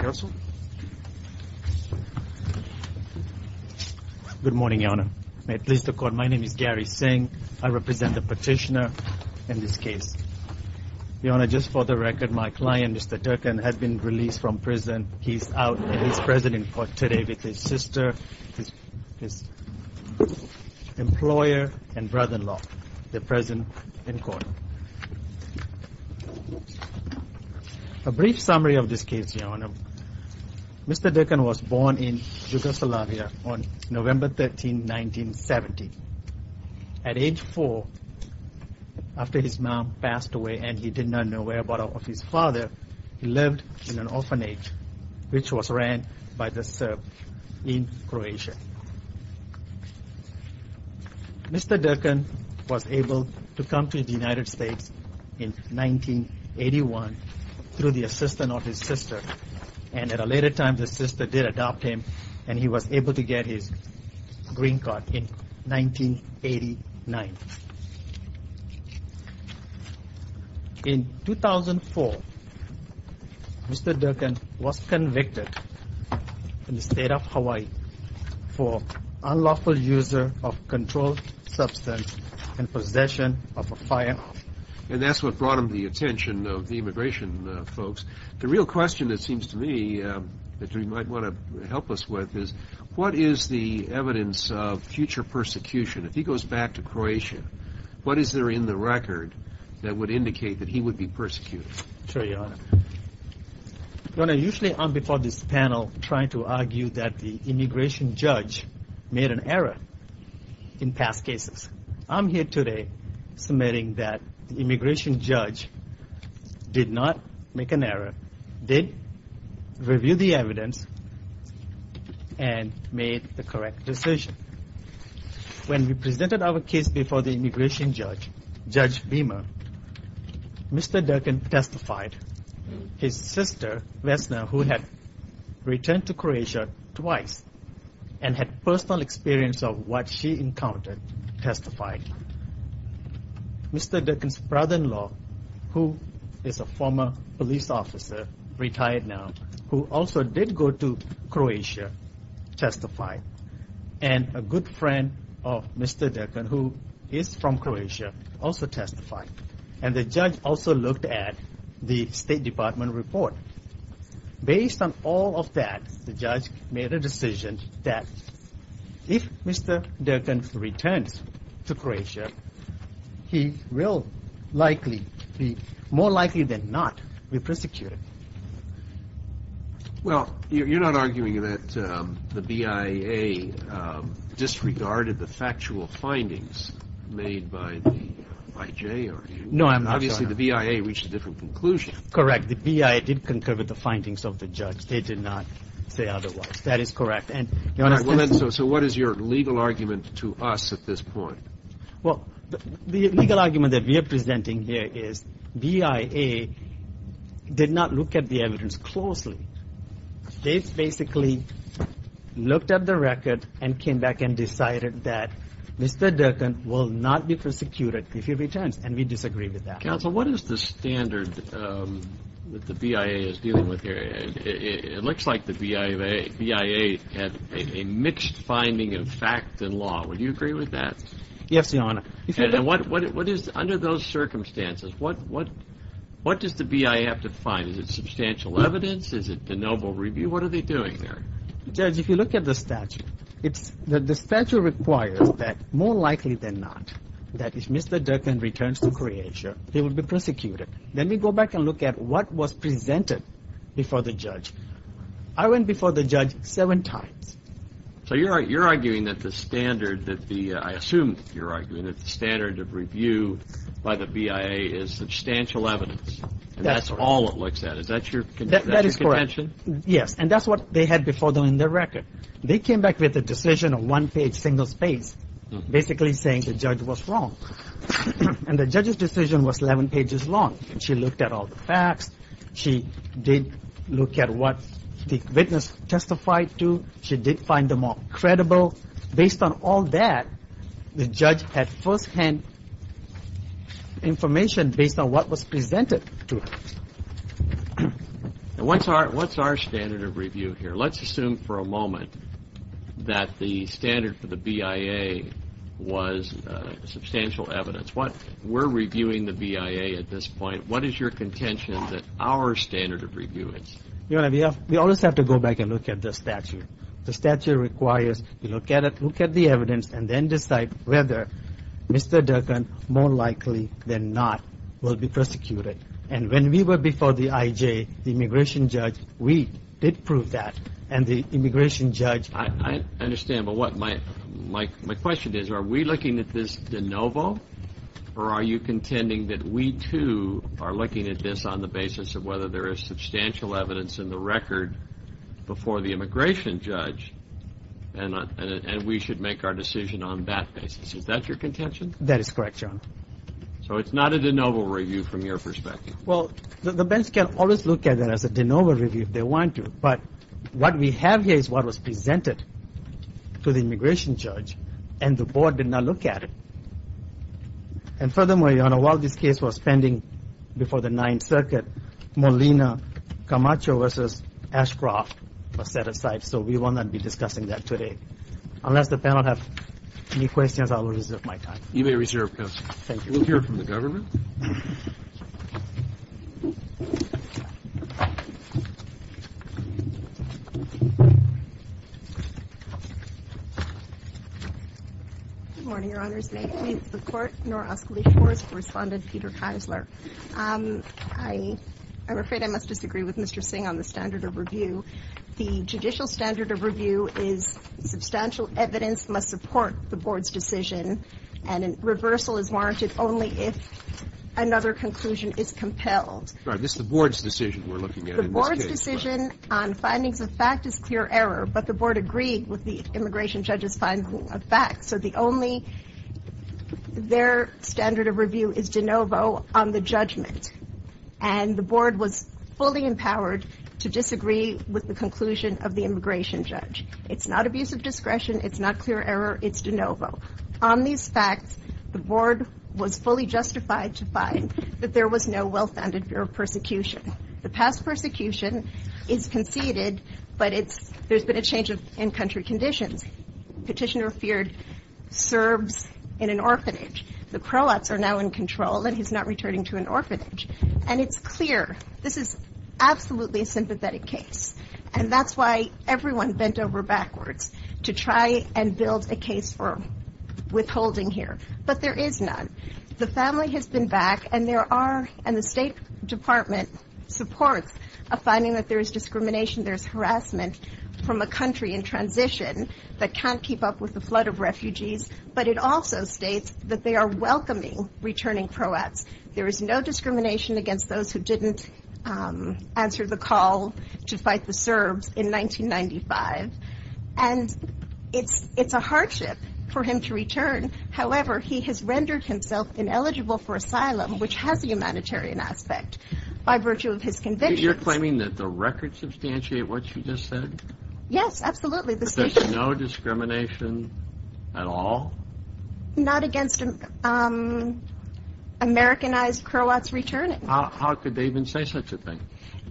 Good morning, Your Honor. May it please the Court, my name is Gary Singh. I represent the petitioner in this case. Your Honor, just for the record, my client, Mr. Durkin, has been released from prison. He's out and he's present in court today with his sister, his employer, and brother-in-law. They're present in court. A brief summary of this case, Your Honor. Mr. Durkin was born in Yugoslavia on November 13, 1970. At age four, after his mom passed away and he did not know whereabouts of his father, he lived in an orphanage, which was ran by the Serbs in Croatia. Mr. Durkin was able to come to the United States in 1981 through the assistance of his sister. And at a later time, his sister did adopt him and he was able to get his green card in 1989. In 2004, Mr. Durkin was convicted in the state of Hawaii for unlawful use of a controlled substance and possession of a firearm. And that's what brought him to the attention of the immigration folks. The real question, it seems to me, that you might want to help us with is, what is the evidence of future persecution? If he goes back to Croatia, what is there in the record that would indicate that he would be persecuted? Sure, Your Honor. Your Honor, usually I'm before this panel trying to argue that the immigration judge made an error in past cases. I'm here today submitting that the immigration judge did not make an error, did review the evidence, and made the correct decision. When we presented our case before the immigration judge, Judge Beamer, Mr. Durkin testified. His sister, Vesna, who had returned to Croatia twice and had personal experience of what she encountered, testified. Mr. Durkin's brother-in-law, who is a former police officer, retired now, who also did go to Croatia, testified. And a good friend of Mr. Durkin, who is from Croatia, also testified. And the judge also looked at the State Department report. Based on all of that, the judge made a decision that if Mr. Durkin returns to Croatia, he will likely be more likely than not be persecuted. Well, you're not arguing that the BIA disregarded the factual findings made by the IJ, are you? No, I'm not, Your Honor. Obviously, the BIA reached a different conclusion. Correct. The BIA did concur with the findings of the judge. They did not say otherwise. That is correct. Your Honor, so what is your legal argument to us at this point? Well, the legal argument that we are presenting here is BIA did not look at the evidence closely. They basically looked at the record and came back and decided that Mr. Durkin will not be persecuted if he returns. And we disagree with that. Counsel, what is the standard that the BIA is dealing with here? It looks like the BIA had a mixed finding of fact and law. Would you agree with that? Yes, Your Honor. And under those circumstances, what does the BIA have to find? Is it substantial evidence? Is it the noble review? What are they doing there? Judge, if you look at the statute, the statute requires that more likely than not, that if Mr. Durkin returns to Croatia, he will be persecuted. Then we go back and look at what was presented before the judge. I went before the judge seven times. So you're arguing that the standard, I assume you're arguing that the standard of review by the BIA is substantial evidence. That's all it looks at. Is that your contention? That is correct. Yes. And that's what they had before them in their record. They came back with a decision of one page, single space, basically saying the judge was wrong. And the judge's decision was 11 pages long. She looked at all the facts. She did look at what the witness testified to. She did find them all credible. Based on all that, the judge had firsthand information based on what was presented to her. What's our standard of review here? Let's assume for a moment that the standard for the BIA was substantial evidence. We're reviewing the BIA at this point. What is your contention that our standard of review is? Your Honor, we always have to go back and look at the statute. The statute requires you look at the evidence and then decide whether Mr. Durkin, more likely than not, will be persecuted. And when we were before the IJ, the immigration judge, we did prove that. And the immigration judge ---- I understand. But what my question is, are we looking at this de novo? Or are you contending that we, too, are looking at this on the basis of whether there is substantial evidence in the record before the immigration judge and we should make our decision on that basis? Is that your contention? That is correct, Your Honor. So it's not a de novo review from your perspective? Well, the bench can always look at it as a de novo review if they want to. But what we have here is what was presented to the immigration judge, and the board did not look at it. And furthermore, Your Honor, while this case was pending before the Ninth Circuit, Molina Camacho v. Ashcroft was set aside, so we will not be discussing that today. Unless the panel have any questions, I will reserve my time. You may reserve, Counsel. Thank you. We'll hear from the government. Good morning, Your Honors. May neither the Court nor Association Correspondent Peter Keisler. I'm afraid I must disagree with Mr. Singh on the standard of review. The judicial standard of review is substantial evidence must support the board's decision and a reversal is warranted only if another conclusion is compelled. Sorry. This is the board's decision we're looking at in this case. The board's decision on findings of fact is clear error, but the board agreed with the immigration judge's finding of fact. So the only their standard of review is de novo on the judgment. And the board was fully empowered to disagree with the conclusion of the immigration judge. It's not abuse of discretion. It's not clear error. It's de novo. On these facts, the board was fully justified to find that there was no well-founded fear of persecution. The past persecution is conceded, but it's – there's been a change of in-country conditions. Petitioner feared serves in an orphanage. The pro-ops are now in control, and he's not returning to an orphanage. And it's clear this is absolutely a sympathetic case, and that's why everyone bent over backwards to try and build a case for withholding here. But there is none. The family has been back, and there are – and the State Department supports a finding that there is discrimination, there is harassment from a country in transition that can't keep up with the flood of refugees, but it also states that they are welcoming returning pro-ops. There is no discrimination against those who didn't answer the call to fight the Serbs in 1995. And it's a hardship for him to return. However, he has rendered himself ineligible for asylum, which has a humanitarian aspect, by virtue of his conviction. You're claiming that the records substantiate what you just said? Yes, absolutely. There's no discrimination at all? Not against Americanized Croats returning. How could they even say such a thing?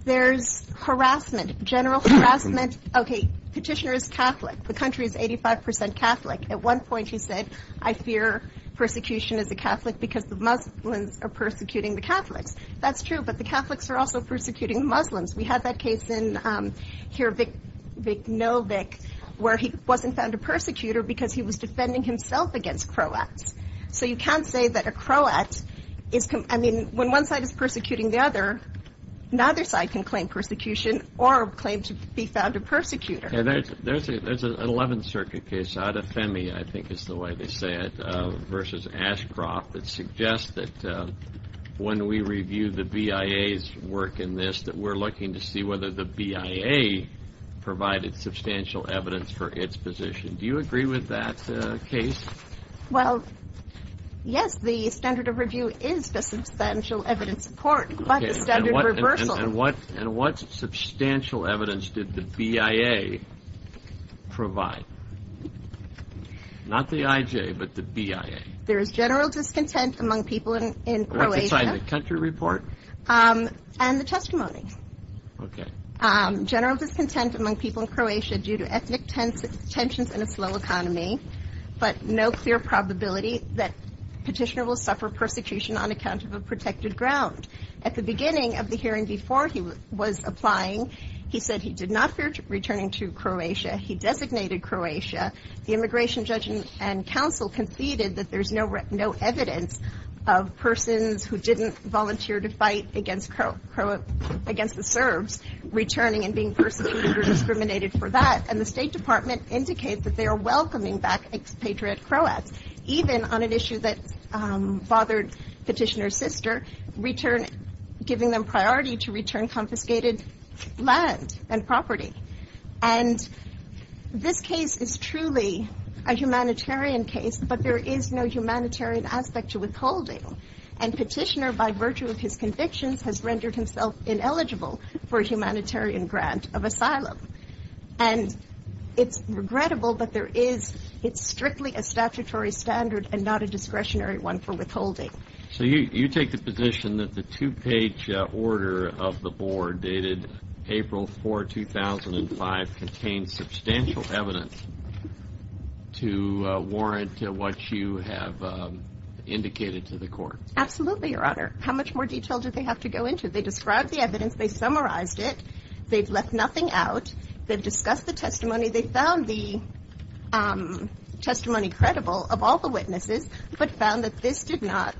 There's harassment, general harassment. Okay, petitioner is Catholic. The country is 85 percent Catholic. At one point, he said, I fear persecution as a Catholic because the Muslims are persecuting the Catholics. That's true, but the Catholics are also persecuting Muslims. We have that case in here, Vicknovic, where he wasn't found a persecutor because he was defending himself against Croats. So you can't say that a Croat is, I mean, when one side is persecuting the other, neither side can claim persecution or claim to be found a persecutor. There's an 11th Circuit case, Adefemi, I think is the way they say it, versus Ashcroft, that suggests that when we review the BIA's work in this, that we're looking to see whether the BIA provided substantial evidence for its position. Do you agree with that case? Well, yes, the standard of review is the substantial evidence support, but the standard reversal. And what substantial evidence did the BIA provide? Not the IJ, but the BIA. There is general discontent among people in Croatia. What's inside the country report? And the testimony. Okay. General discontent among people in Croatia due to ethnic tensions and a slow economy, but no clear probability that petitioner will suffer persecution on account of a protected ground. At the beginning of the hearing before he was applying, he said he did not fear returning to Croatia. He designated Croatia. The immigration judge and counsel conceded that there's no evidence of persons who didn't volunteer to fight against the Serbs returning and being persecuted or discriminated for that. And the State Department indicates that they are welcoming back expatriate Croats, even on an issue that bothered petitioner's sister, giving them priority to return confiscated land and property. And this case is truly a humanitarian case, but there is no humanitarian aspect to withholding. And petitioner, by virtue of his convictions, has rendered himself ineligible for a humanitarian grant of asylum. And it's regrettable, but it's strictly a statutory standard and not a discretionary one for withholding. So you take the position that the two-page order of the board dated April 4, 2005, contains substantial evidence to warrant what you have indicated to the court. Absolutely, Your Honor. How much more detail do they have to go into? They described the evidence. They summarized it. They've left nothing out. They've discussed the testimony. They found the testimony credible of all the witnesses, but found that this did not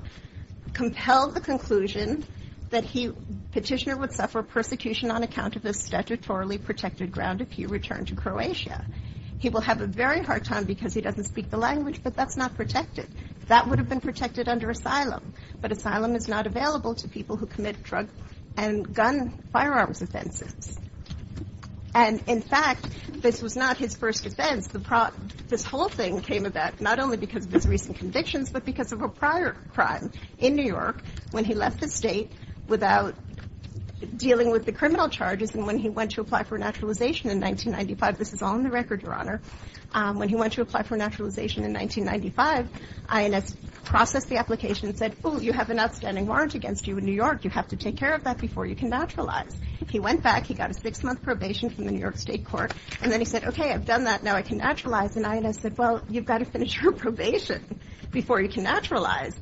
compel the conclusion that he, petitioner, would suffer persecution on account of his statutorily protected ground if he returned to Croatia. He will have a very hard time because he doesn't speak the language, but that's not protected. That would have been protected under asylum, but asylum is not available to people who commit drug and gun firearms offenses. And, in fact, this was not his first defense. This whole thing came about not only because of his recent convictions, but because of a prior crime in New York when he left the state without dealing with the criminal charges and when he went to apply for naturalization in 1995. This is all in the record, Your Honor. When he went to apply for naturalization in 1995, INS processed the application and said, oh, you have an outstanding warrant against you in New York. You have to take care of that before you can naturalize. He went back. He got a six-month probation from the New York State Court. And then he said, okay, I've done that. Now I can naturalize. And INS said, well, you've got to finish your probation before you can naturalize.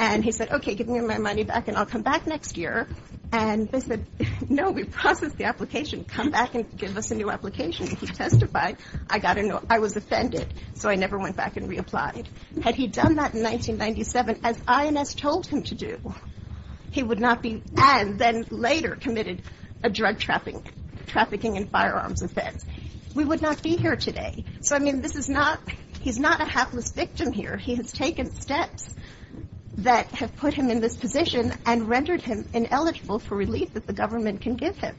And he said, okay, give me my money back and I'll come back next year. And they said, no, we've processed the application. Come back and give us a new application. And he testified, I got a no. I was offended, so I never went back and reapplied. Had he done that in 1997, as INS told him to do, he would not be and then later committed a drug trafficking and firearms offense. We would not be here today. So, I mean, this is not he's not a hapless victim here. He has taken steps that have put him in this position and rendered him ineligible for relief that the government can give him.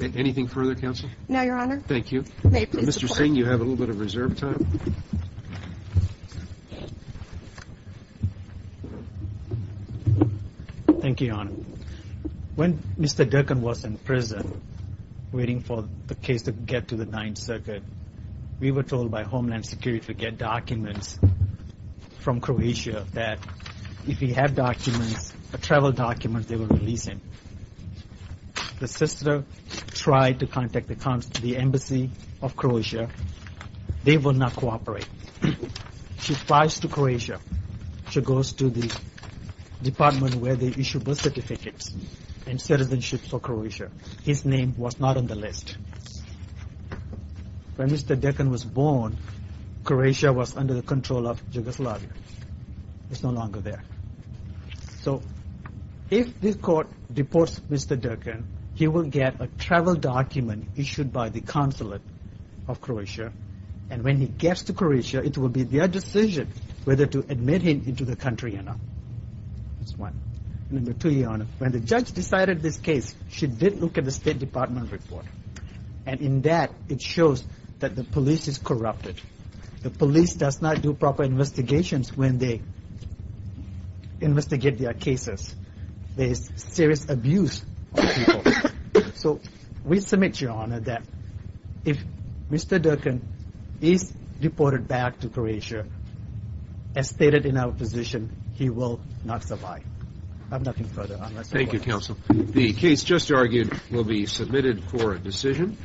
Anything further, counsel? No, Your Honor. Thank you. Mr. Singh, you have a little bit of reserve time. Thank you, Your Honor. When Mr. Durkan was in prison waiting for the case to get to the Ninth Circuit, we were told by Homeland Security to get documents from Croatia that if we have documents, travel documents, they will release him. The sister tried to contact the embassy of Croatia. They will not cooperate. She flies to Croatia. She goes to the department where they issue birth certificates and citizenship for Croatia. His name was not on the list. When Mr. Durkan was born, Croatia was under the control of Yugoslavia. It's no longer there. So, if this court deports Mr. Durkan, he will get a travel document issued by the consulate of Croatia and when he gets to Croatia, it will be their decision whether to admit him into the country or not. That's one. Number two, Your Honor. When the judge decided this case, she did look at the State Department report. And in that, it shows that the police is corrupted. The police does not do proper investigations when they investigate their cases. There is serious abuse of people. So, we submit, Your Honor, that if Mr. Durkan is deported back to Croatia, as stated in our position, he will not survive. I have nothing further. Thank you, Counsel. The case just argued will be submitted for a decision.